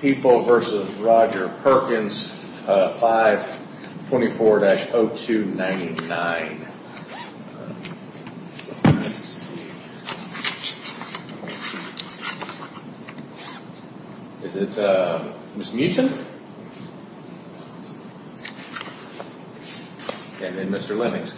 People v. Roger Perkins 524-0299 Mr. Mewton Mr. Lemmings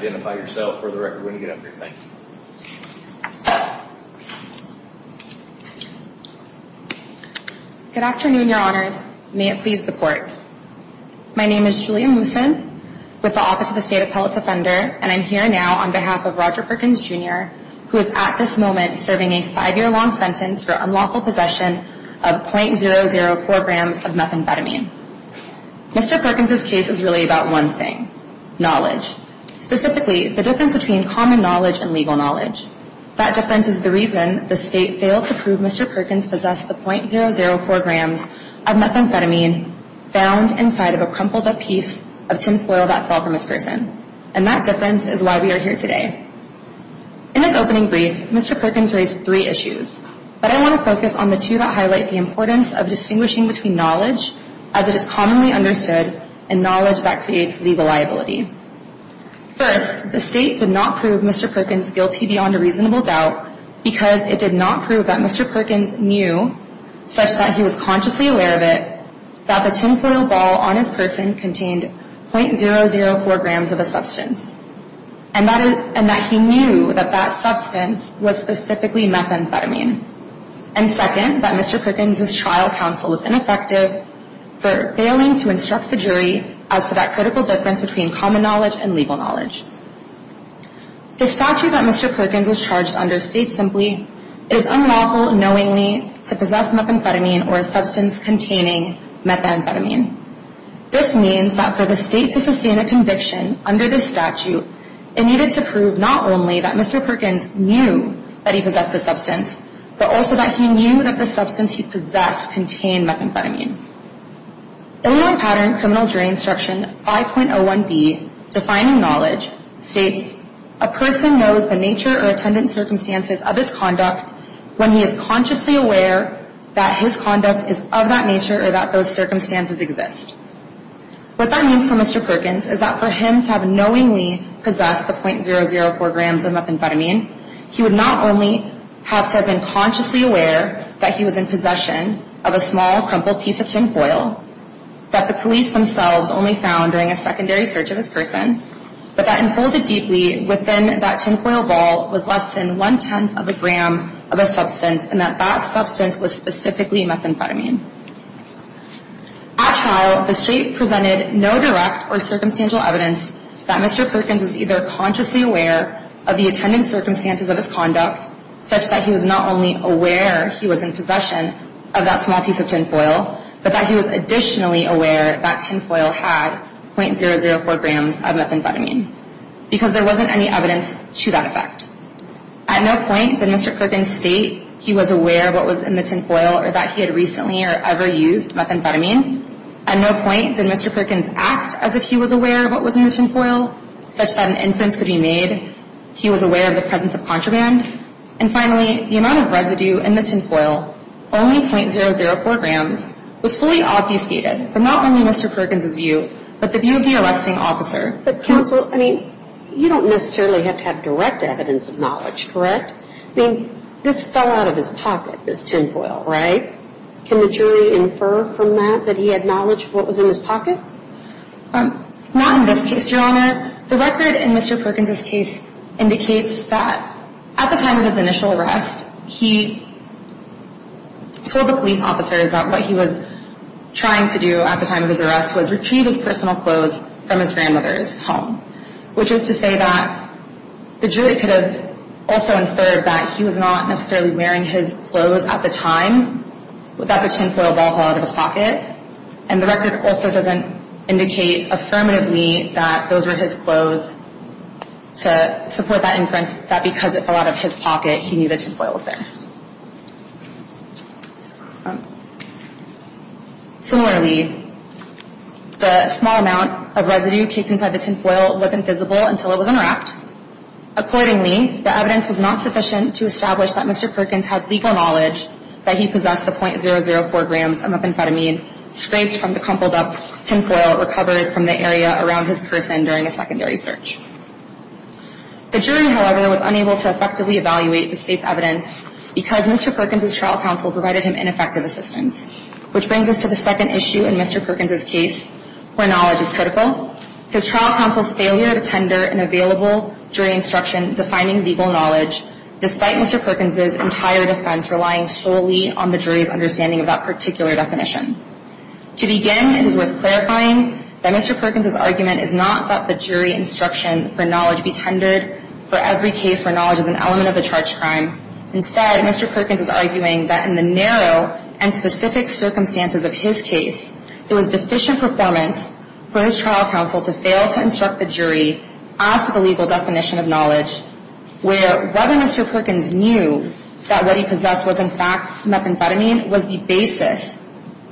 Good afternoon, Your Honors. May it please the Court. My name is Julia Mooson with the Office of the State Appellate Defender, and I'm here now on behalf of Roger Perkins, Jr., who is at this moment serving a five-year-old son. Mr. Perkins was sentenced to a very long sentence for unlawful possession of .004 grams of methamphetamine. Mr. Perkins' case is really about one thing, knowledge. Specifically, the difference between common knowledge and legal knowledge. That difference is the reason the State failed to prove Mr. Perkins possessed the .004 grams of methamphetamine found inside of a crumpled-up piece of tinfoil that fell from his person. And that difference is why we are here today. In his opening brief, Mr. Perkins raised three issues, but I want to focus on the two that highlight the importance of distinguishing between knowledge, as it is commonly understood, and knowledge that creates legal liability. First, the State did not prove Mr. Perkins guilty beyond a reasonable doubt because it did not prove that Mr. Perkins knew, such that he was consciously aware of it, that the tinfoil ball on his person contained .004 grams of a substance. And that he knew that that substance was specifically methamphetamine. And second, that Mr. Perkins' trial counsel was ineffective for failing to instruct the jury as to that critical difference between common knowledge and legal knowledge. The statute that Mr. Perkins was charged under states simply, it is unlawful knowingly to possess methamphetamine or a substance containing methamphetamine. This means that for the State to sustain a conviction under this statute, it needed to prove not only that Mr. Perkins knew that he possessed a substance, but also that he knew that the substance he possessed contained methamphetamine. Illinois Pattern Criminal Jury Instruction 5.01b, Defining Knowledge, states, A person knows the nature or attendant circumstances of his conduct when he is consciously aware that his conduct is of that nature or that those circumstances exist. What that means for Mr. Perkins is that for him to have knowingly possessed the .004 grams of methamphetamine, he would not only have to have been consciously aware that he was in possession of a small, crumpled piece of tinfoil, that the police themselves only found during a secondary search of his person, but that unfolded deeply within that tinfoil ball was less than one-tenth of a gram of a substance, and that that substance was specifically methamphetamine. At trial, the State presented no direct or circumstantial evidence that Mr. Perkins was either consciously aware of the attendant circumstances of his conduct, such that he was not only aware he was in possession of that small piece of tinfoil, but that he was additionally aware that tinfoil had .004 grams of methamphetamine, because there wasn't any evidence to that effect. At no point did Mr. Perkins state he was aware of what was in the tinfoil or that he had recently or ever used methamphetamine. At no point did Mr. Perkins act as if he was aware of what was in the tinfoil, such that an inference could be made he was aware of the presence of contraband. And finally, the amount of residue in the tinfoil, only .004 grams, was fully obfuscated from not only Mr. Perkins' view, but the view of the arresting officer. But counsel, I mean, you don't necessarily have to have direct evidence of knowledge, correct? I mean, this fell out of his pocket, this tinfoil, right? Can the jury infer from that that he had knowledge of what was in his pocket? Not in this case, Your Honor. The record in Mr. Perkins' case indicates that at the time of his initial arrest, he told the police officers that what he was trying to do at the time of his arrest was retrieve his personal clothes from his grandmother's home. Which is to say that the jury could have also inferred that he was not necessarily wearing his clothes at the time, that the tinfoil ball fell out of his pocket. And the record also doesn't indicate affirmatively that those were his clothes to support that inference, that because it fell out of his pocket, he knew the tinfoil was there. Similarly, the small amount of residue taken by the tinfoil wasn't visible until it was unwrapped. Accordingly, the evidence was not sufficient to establish that Mr. Perkins had legal knowledge that he possessed the .004 grams of methamphetamine scraped from the crumpled up tinfoil recovered from the area around his person during a secondary search. The jury, however, was unable to effectively evaluate the state's evidence because Mr. Perkins' trial counsel provided him ineffective assistance. Which brings us to the second issue in Mr. Perkins' case where knowledge is critical. His trial counsel's failure to tender an available jury instruction defining legal knowledge despite Mr. Perkins' entire defense relying solely on the jury's understanding of that particular definition. To begin, it is worth clarifying that Mr. Perkins' argument is not that the jury instruction for knowledge be tendered for every case where knowledge is an element of the charge crime. Instead, Mr. Perkins is arguing that in the narrow and specific circumstances of his case, it was deficient performance for his trial counsel to fail to instruct the jury as to the legal definition of knowledge where whether Mr. Perkins knew that what he possessed was in fact methamphetamine was the basis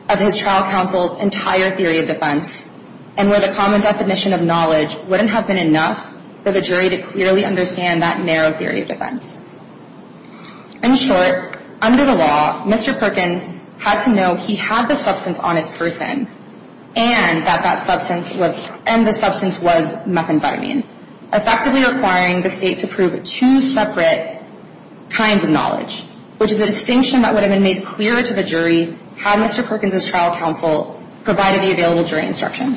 of his trial counsel's entire theory of defense and where the common definition of knowledge wouldn't have been enough for the jury to clearly understand that narrow theory of defense. In short, under the law, Mr. Perkins had to know he had the substance on his person and that the substance was methamphetamine. Effectively requiring the state to prove two separate kinds of knowledge, which is a distinction that would have been made clearer to the jury had Mr. Perkins' trial counsel provided the available jury instruction.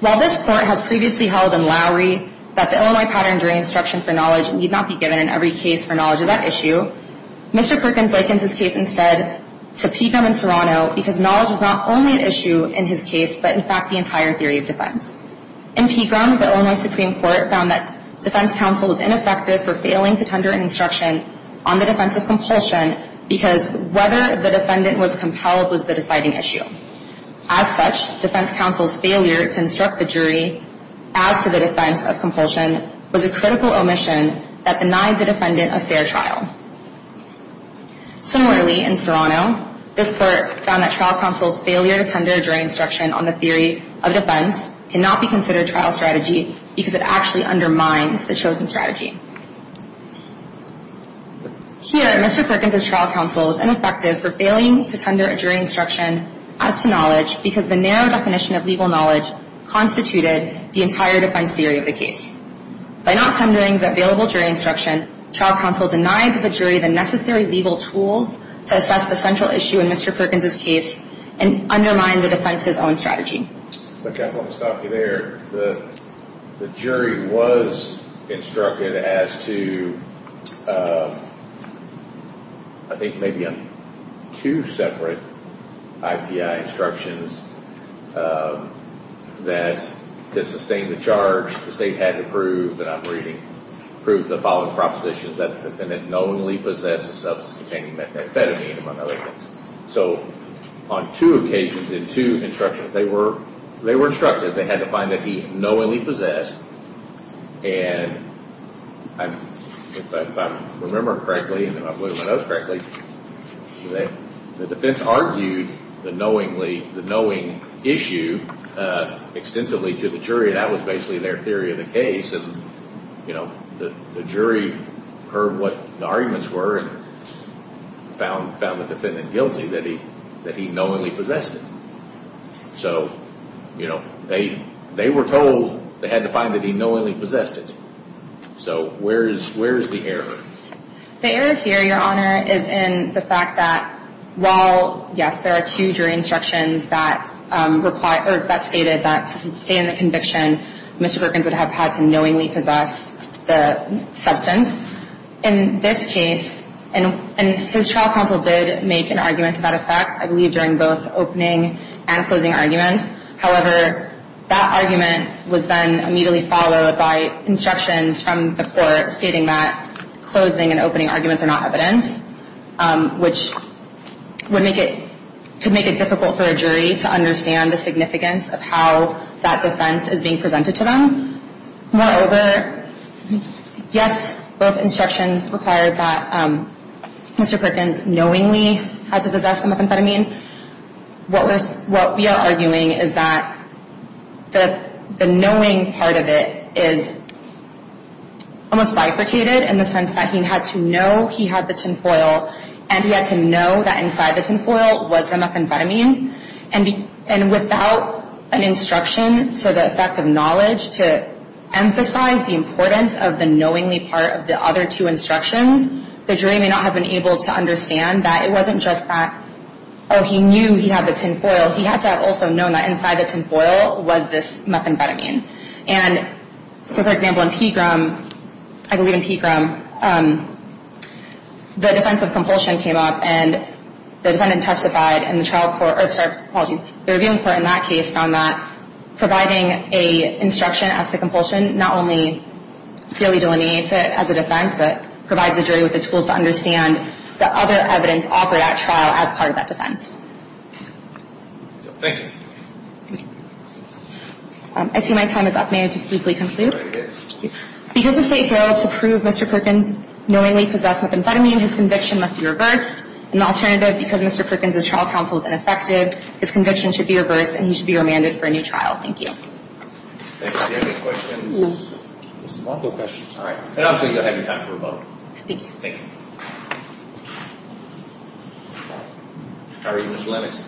While this Court has previously held in Lowry that the Illinois pattern jury instruction for knowledge need not be given in every case for knowledge of that issue, Mr. Perkins likens his case instead to Pecom and Serrano because knowledge is not only an issue in his case, but in fact the entire theory of defense. In Pecom, the Illinois Supreme Court found that defense counsel was ineffective for failing to tender an instruction on the defense of compulsion because whether the defendant was compelled was the deciding issue. As such, defense counsel's failure to instruct the jury as to the defense of compulsion was a critical omission that denied the defendant a fair trial. Similarly, in Serrano, this Court found that trial counsel's failure to tender a jury instruction on the theory of defense cannot be considered trial strategy because it actually undermines the chosen strategy. Here, Mr. Perkins' trial counsel was ineffective for failing to tender a jury instruction as to knowledge because the narrow definition of legal knowledge constituted the entire defense theory of the case. By not tendering the available jury instruction, trial counsel denied the jury the necessary legal tools to assess the central issue in Mr. Perkins' case and undermine the defense's own strategy. Okay, I want to stop you there. The jury was instructed as to, I think maybe two separate IPI instructions that to sustain the charge, the state had to prove, and I'm reading, prove the following propositions, that the defendant knowingly possessed a substance containing methamphetamine, among other things. So on two occasions, in two instructions, they were instructed. They had to find that he knowingly possessed, and if I remember correctly, and I believe I know this correctly, the defense argued the knowingly, the knowing issue extensively to the jury, and that was basically their theory of the case. And, you know, the jury heard what the arguments were and found the defendant guilty, that he knowingly possessed it. So, you know, they were told they had to find that he knowingly possessed it. So where is the error? The error here, Your Honor, is in the fact that while, yes, there are two jury instructions that stated that to sustain the conviction, Mr. Perkins would have had to knowingly possess the substance. In this case, and his trial counsel did make an argument to that effect, I believe, during both opening and closing arguments. However, that argument was then immediately followed by instructions from the court stating that closing and opening arguments are not evidence, which could make it difficult for a jury to understand the significance of how that defense is being presented to them. Moreover, yes, both instructions required that Mr. Perkins knowingly had to possess the methamphetamine. What we are arguing is that the knowing part of it is almost bifurcated in the sense that he had to know he had the tin foil, and he had to know that inside the tin foil was the methamphetamine. And without an instruction to the effect of knowledge to emphasize the importance of the knowingly part of the other two instructions, the jury may not have been able to understand that it wasn't just that, oh, he knew he had the tin foil. He had to have also known that inside the tin foil was this methamphetamine. And so, for example, in Pegram, I believe in Pegram, the defense of compulsion came up, and the defendant testified in the trial court, or, sorry, apologies, the reviewing court in that case, found that providing an instruction as to compulsion not only fairly delineates it as a defense, but provides the jury with the tools to understand the other evidence offered at trial as part of that defense. Thank you. I see my time is up. May I just briefly conclude? Because the state failed to prove Mr. Perkins knowingly possessed methamphetamine, his conviction must be reversed. An alternative, because Mr. Perkins' trial counsel is ineffective, his conviction should be reversed, and he should be remanded for a new trial. Thank you. Thank you. Any questions? No. No questions. All right. And obviously, you'll have your time for a vote. Thank you. Thank you. How are you, Mr. Lennox?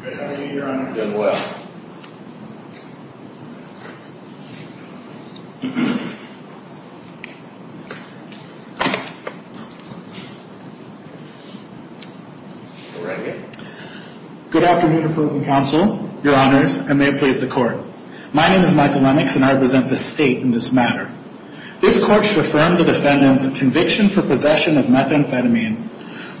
Great, how are you, Your Honor? Doing well. Go right ahead. Good afternoon, Approving Counsel, Your Honors, and may it please the Court. My name is Michael Lennox, and I represent the state in this matter. This Court should affirm the defendant's conviction for possession of methamphetamine.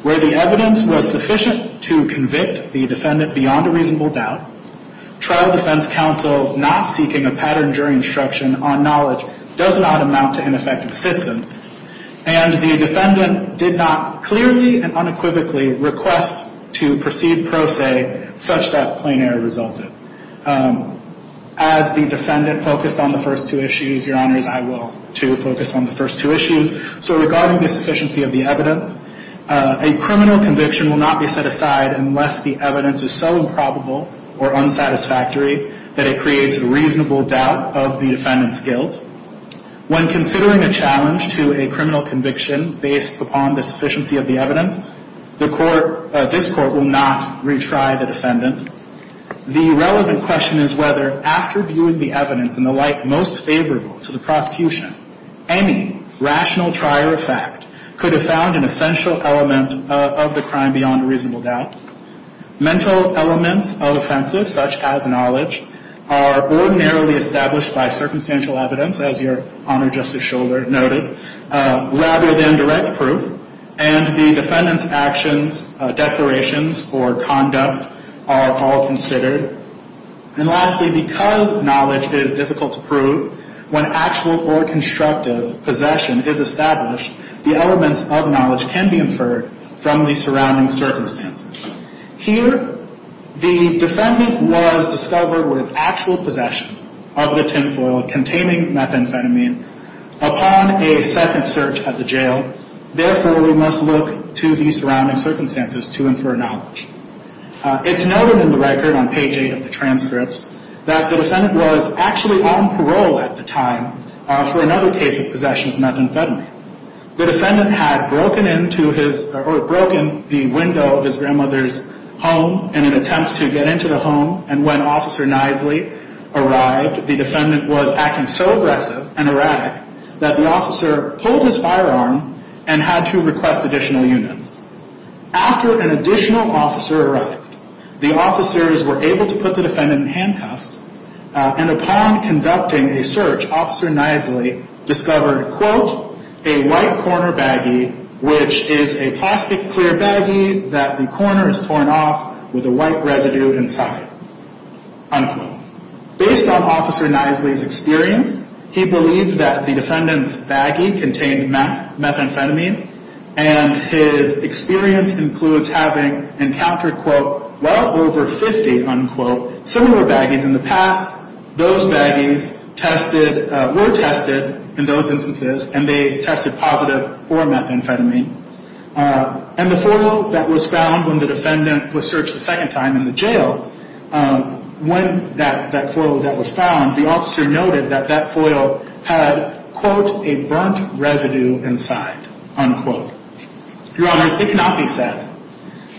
Where the evidence was sufficient to convict the defendant beyond a reasonable doubt, trial defense counsel not seeking a pattern during instruction on knowledge does not amount to ineffective assistance, and the defendant did not clearly and unequivocally request to proceed pro se such that plain error resulted. As the defendant focused on the first two issues, Your Honors, I will, too, focus on the first two issues. So regarding the sufficiency of the evidence, a criminal conviction will not be set aside unless the evidence is so improbable or unsatisfactory that it creates a reasonable doubt of the defendant's guilt. When considering a challenge to a criminal conviction based upon the sufficiency of the evidence, this Court will not retry the defendant. The relevant question is whether, after viewing the evidence in the light most favorable to the prosecution, any rational trier of fact could have found an essential element of the crime beyond a reasonable doubt. Mental elements of offenses such as knowledge are ordinarily established by circumstantial evidence, as Your Honor, Justice Shouler noted, rather than direct proof, and the defendant's actions, declarations, or conduct are all considered. And lastly, because knowledge is difficult to prove, when actual or constructive possession is established, the elements of knowledge can be inferred from the surrounding circumstances. Here, the defendant was discovered with actual possession of the tinfoil containing methamphetamine upon a second search at the jail. Therefore, we must look to the surrounding circumstances to infer knowledge. It's noted in the record on page 8 of the transcripts that the defendant was actually on parole at the time for another case of possession of methamphetamine. The defendant had broken the window of his grandmother's home in an attempt to get into the home, and when Officer Knisely arrived, the defendant was acting so aggressive and erratic that the officer pulled his firearm and had to request additional units. After an additional officer arrived, the officers were able to put the defendant in handcuffs, and upon conducting a search, Officer Knisely discovered, quote, a white corner baggie, which is a plastic clear baggie that the corner is torn off with a white residue inside, unquote. Based on Officer Knisely's experience, he believed that the defendant's baggie contained methamphetamine, and his experience includes having encountered, quote, well over 50, unquote, similar baggies in the past. Those baggies tested, were tested in those instances, and they tested positive for methamphetamine. And the foil that was found when the defendant was searched a second time in the jail, when that foil that was found, the officer noted that that foil had, quote, a burnt residue inside, unquote. Your Honors, it cannot be said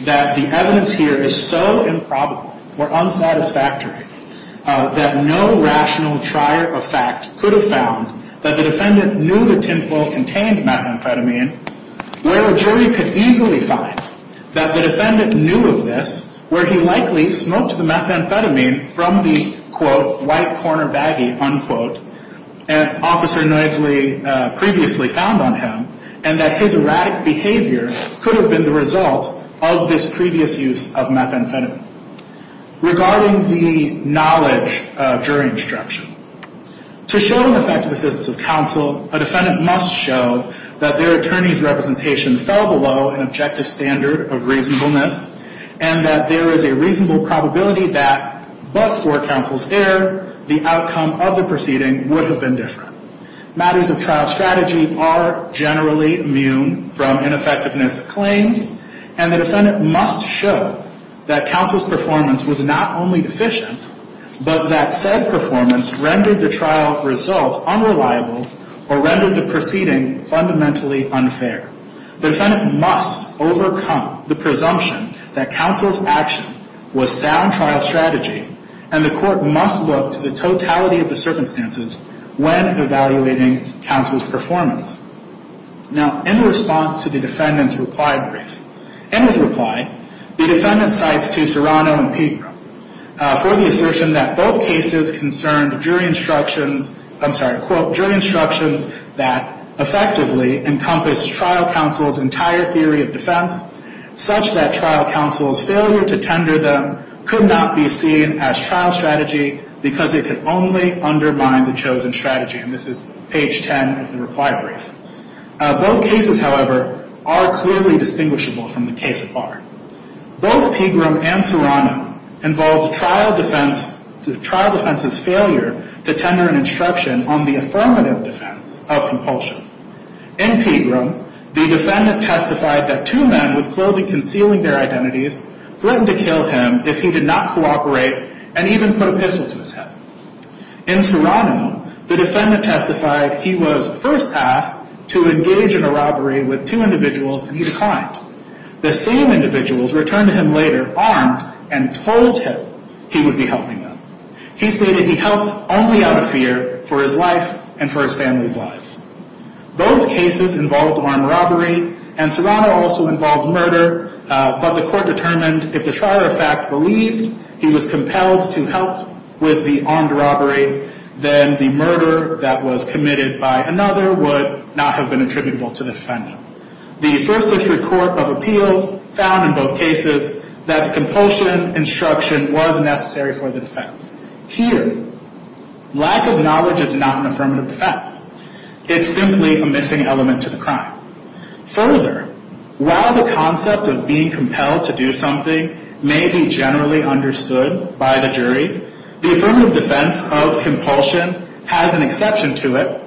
that the evidence here is so improbable or unsatisfactory that no rational trier of fact could have found that the defendant knew the tin foil contained methamphetamine, where a jury could easily find that the defendant knew of this, where he likely smoked the methamphetamine from the, quote, white corner baggie, unquote, that Officer Knisely previously found on him, and that his erratic behavior could have been the result of this previous use of methamphetamine. Regarding the knowledge of jury instruction, to show an effective assistance of counsel, a defendant must show that their attorney's representation fell below an objective standard of reasonableness, and that there is a reasonable probability that, but for counsel's error, the outcome of the proceeding would have been different. Matters of trial strategy are generally immune from ineffectiveness claims, and the defendant must show that counsel's performance was not only deficient, but that said performance rendered the trial result unreliable or rendered the proceeding fundamentally unfair. The defendant must overcome the presumption that counsel's action was sound trial strategy, and the court must look to the totality of the circumstances when evaluating counsel's performance. Now, in response to the defendant's reply brief, in his reply, the defendant cites to Serrano and Pegram for the assertion that both cases concerned jury instructions, I'm sorry, quote, jury instructions that effectively encompass trial counsel's entire theory of defense, such that trial counsel's failure to tender them could not be seen as trial strategy because it could only undermine the chosen strategy, and this is page 10 of the reply brief. Both cases, however, are clearly distinguishable from the case at bar. Both Pegram and Serrano involved trial defense's failure to tender an instruction on the affirmative defense of compulsion. In Pegram, the defendant testified that two men with clothing concealing their identities threatened to kill him if he did not cooperate and even put a pistol to his head. In Serrano, the defendant testified he was first asked to engage in a robbery with two individuals and he declined. The same individuals returned to him later armed and told him he would be helping them. He stated he helped only out of fear for his life and for his family's lives. Both cases involved armed robbery and Serrano also involved murder, but the court determined if the trier of fact believed he was compelled to help with the armed robbery, then the murder that was committed by another would not have been attributable to the defendant. The First District Court of Appeals found in both cases that compulsion instruction was necessary for the defense. Here, lack of knowledge is not an affirmative defense. It's simply a missing element to the crime. Further, while the concept of being compelled to do something may be generally understood by the jury, the affirmative defense of compulsion has an exception to it,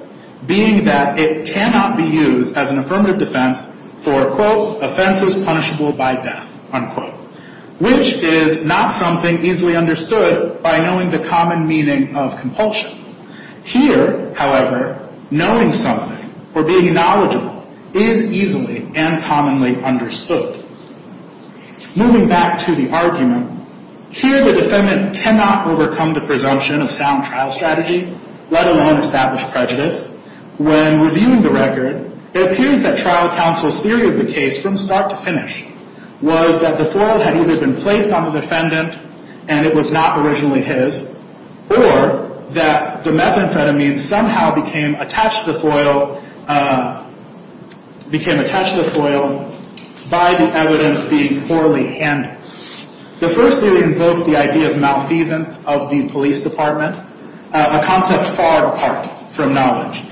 being that it cannot be used as an affirmative defense for, quote, offenses punishable by death, unquote, which is not something easily understood by knowing the common meaning of compulsion. Here, however, knowing something or being knowledgeable is easily and commonly understood. Moving back to the argument, here the defendant cannot overcome the presumption of sound trial strategy, let alone establish prejudice. When reviewing the record, it appears that trial counsel's theory of the case from start to finish was that the foil had either been placed on the defendant and it was not originally his or that the methamphetamine somehow became attached to the foil by the evidence being poorly handled. The first theory invokes the idea of malfeasance of the police department, a concept far apart from knowledge.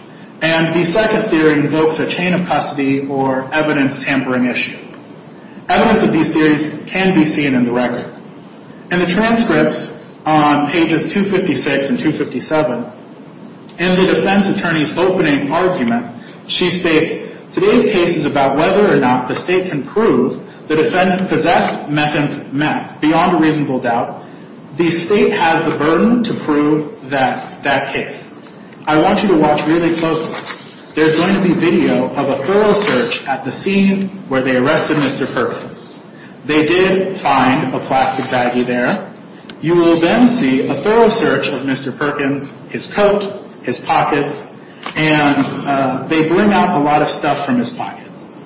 And the second theory invokes a chain of custody or evidence tampering issue. Evidence of these theories can be seen in the record. In the transcripts on pages 256 and 257, in the defense attorney's opening argument, she states, today's case is about whether or not the state can prove the defendant possessed methamphetamine. Beyond a reasonable doubt, the state has the burden to prove that case. I want you to watch really closely. There's going to be video of a thorough search at the scene where they arrested Mr. Perkins. They did find a plastic baggie there. You will then see a thorough search of Mr. Perkins, his coat, his pockets, and they bring out a lot of stuff from his pockets.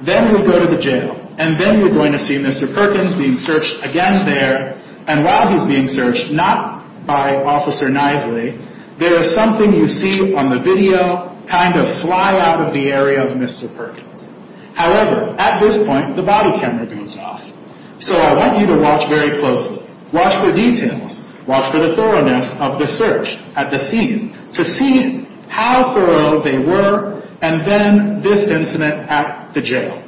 Then we go to the jail, and then we're going to see Mr. Perkins being searched again there. And while he's being searched, not by Officer Knisely, there is something you see on the video kind of fly out of the area of Mr. Perkins. However, at this point, the body camera goes off. So I want you to watch very closely. Watch for details. Watch for the thoroughness of the search at the scene to see how thorough they were, and then this incident at the jail.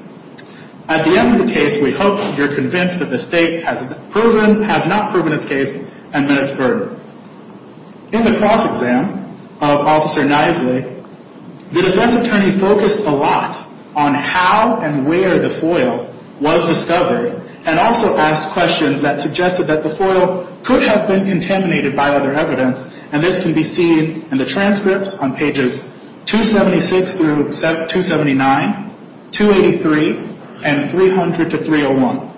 At the end of the case, we hope you're convinced that the state has not proven its case and that it's burdened. In the cross-exam of Officer Knisely, the defense attorney focused a lot on how and where the foil was discovered and also asked questions that suggested that the foil could have been contaminated by other evidence, and this can be seen in the transcripts on pages 276 through 279, 283, and 300 to 301.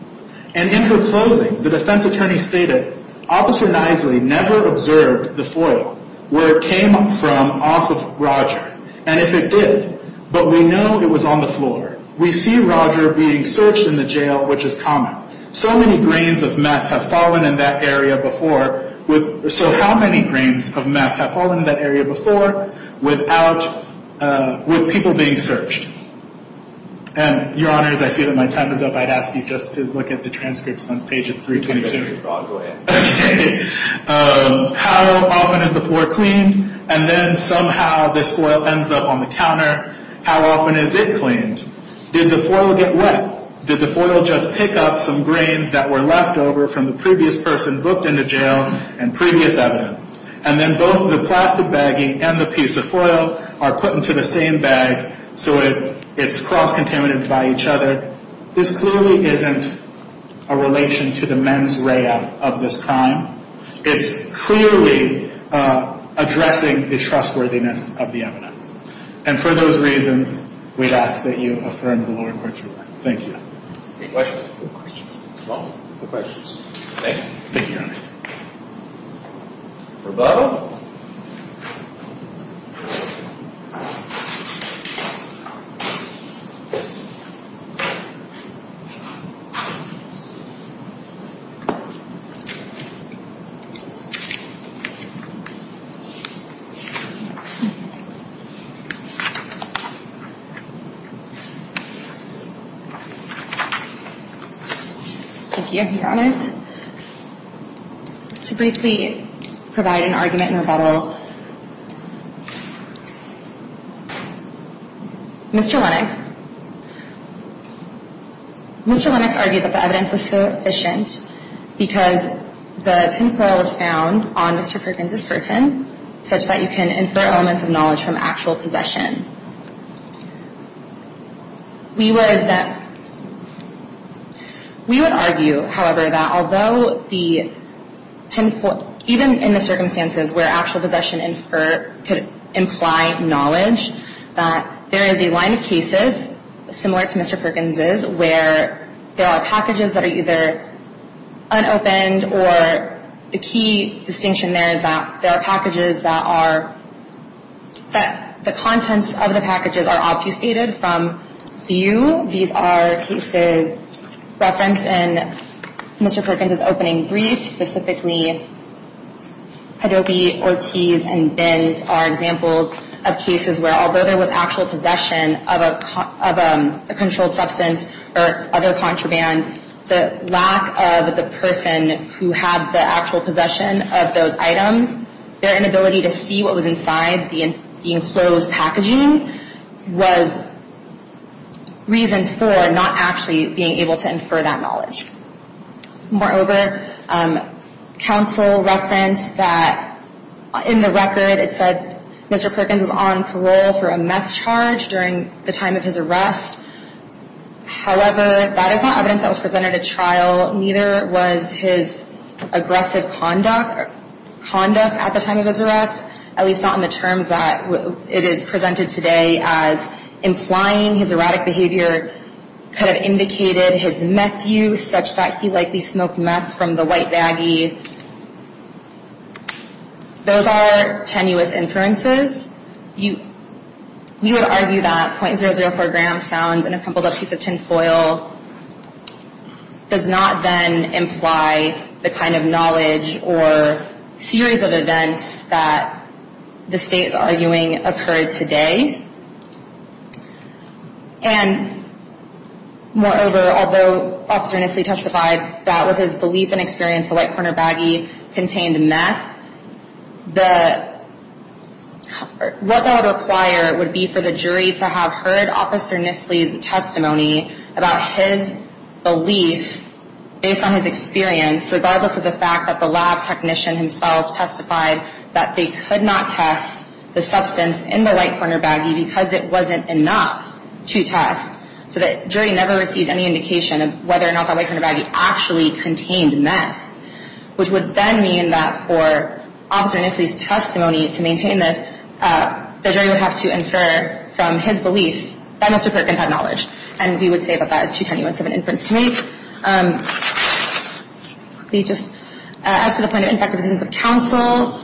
And in her closing, the defense attorney stated, Officer Knisely never observed the foil where it came from off of Roger, and if it did, but we know it was on the floor. We see Roger being searched in the jail, which is common. So many grains of meth have fallen in that area before. So how many grains of meth have fallen in that area before with people being searched? And, Your Honors, I see that my time is up. I'd ask you just to look at the transcripts on pages 322. Go ahead. Okay. How often is the floor cleaned, and then somehow this foil ends up on the counter. How often is it cleaned? Did the foil get wet? Did the foil just pick up some grains that were left over from the previous person booked into jail and previous evidence, and then both the plastic baggie and the piece of foil are put into the same bag so it's cross-contaminated by each other? This clearly isn't a relation to the mens rea of this crime. It's clearly addressing the trustworthiness of the evidence, and for those reasons, we'd ask that you affirm the lower court's ruling. Thank you. Any questions? No questions. No questions. Thank you. Thank you, Your Honors. Rebuttal. Thank you, Your Honors. To briefly provide an argument and rebuttal, Mr. Lennox, Mr. Lennox argued that the evidence was sufficient because the tin foil was found on Mr. Perkins' person such that you can infer elements of knowledge from actual possession. We would argue, however, that although the tin foil, even in the circumstances where actual possession could imply knowledge, that there is a line of cases similar to Mr. Perkins' where there are packages that are either unopened or the key distinction there is that there are packages that are, that the contents of the packages are obfuscated from view. These are cases referenced in Mr. Perkins' opening brief, specifically Hadoopi, Ortiz, and Benz are examples of cases where although there was actual possession of a controlled substance or other contraband, the lack of the person who had the actual possession of those items, their inability to see what was inside the enclosed packaging was reason for not actually being able to infer that knowledge. Moreover, counsel referenced that in the record, it said Mr. Perkins was on parole for a meth charge during the time of his arrest. However, that is not evidence that was presented at trial. Neither was his aggressive conduct at the time of his arrest, at least not in the terms that it is presented today as implying his erratic behavior could have indicated his meth use such that he likely smoked meth from the white baggie. Those are tenuous inferences. We would argue that .004 grams found in a crumpled up piece of tinfoil does not then imply the kind of knowledge or series of events that the state is arguing occurred today. And moreover, although Officer Nestle testified that with his belief and experience the white corner baggie contained meth, what that would require would be for the jury to have heard Officer Nestle's testimony about his belief based on his experience, regardless of the fact that the lab technician himself testified that they could not test the substance in the white corner baggie because it wasn't enough to test, so the jury never received any indication of whether or not the white corner baggie actually contained meth, which would then mean that for Officer Nestle's testimony to maintain this, the jury would have to infer from his belief that Mr. Perkins had knowledge. And we would say that that is too tenuous of an inference to make. As to the point of impact of assistance of counsel,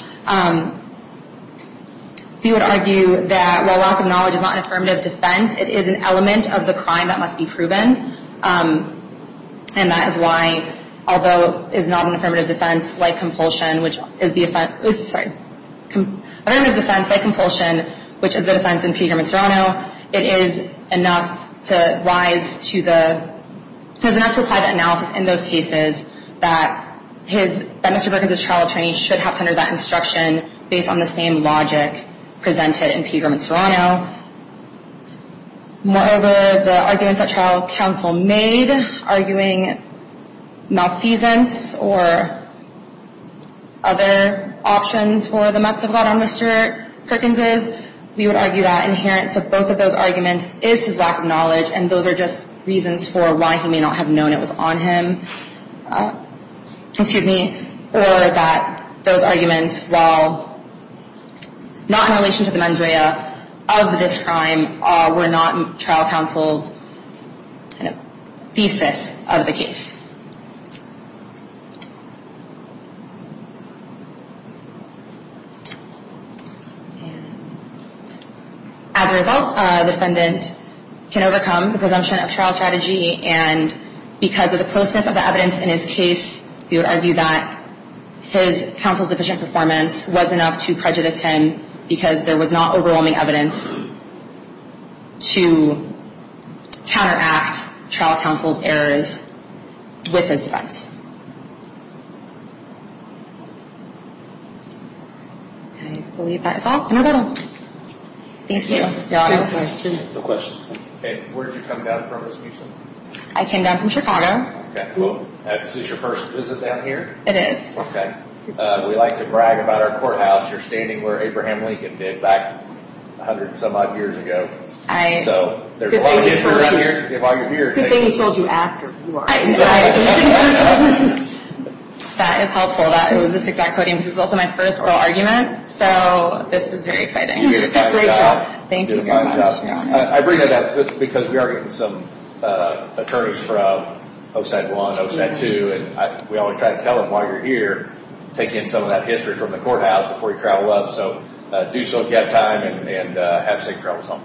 we would argue that while lack of knowledge is not an affirmative defense, it is an element of the crime that must be proven. And that is why, although it is not an affirmative defense like compulsion, which is the offense in Pegram and Serrano, it is enough to rise to the, it is enough to apply the analysis in those cases that Mr. Perkins' trial attorney should have under that instruction based on the same logic presented in Pegram and Serrano. Moreover, the arguments that trial counsel made, arguing malfeasance or other options for the meths of God on Mr. Perkins', we would argue that inherence of both of those arguments is his lack of knowledge, and those are just reasons for why he may not have known it was on him. Or that those arguments, while not in relation to the mens rea, of this crime, were not trial counsel's thesis of the case. As a result, the defendant can overcome the presumption of trial strategy, and because of the closeness of the evidence in his case, we would argue that his counsel's deficient performance was enough to prejudice him because there was not overwhelming evidence to counteract trial counsel's errors with his defense. I believe that is all. Thank you. Where did you come down from? I came down from Chicago. This is your first visit down here? It is. We like to brag about our courthouse. You are standing where Abraham Lincoln did back a hundred and some odd years ago. Good thing he told you after you arrived. That is helpful. This is also my first oral argument, so this is very exciting. Thank you very much. I bring it up because we are getting some attorneys from OSAD 1 and OSAD 2, and we always try to tell them, while you are here, take in some of that history from the courthouse before you travel up. Do so if you have time, and have safe travels home.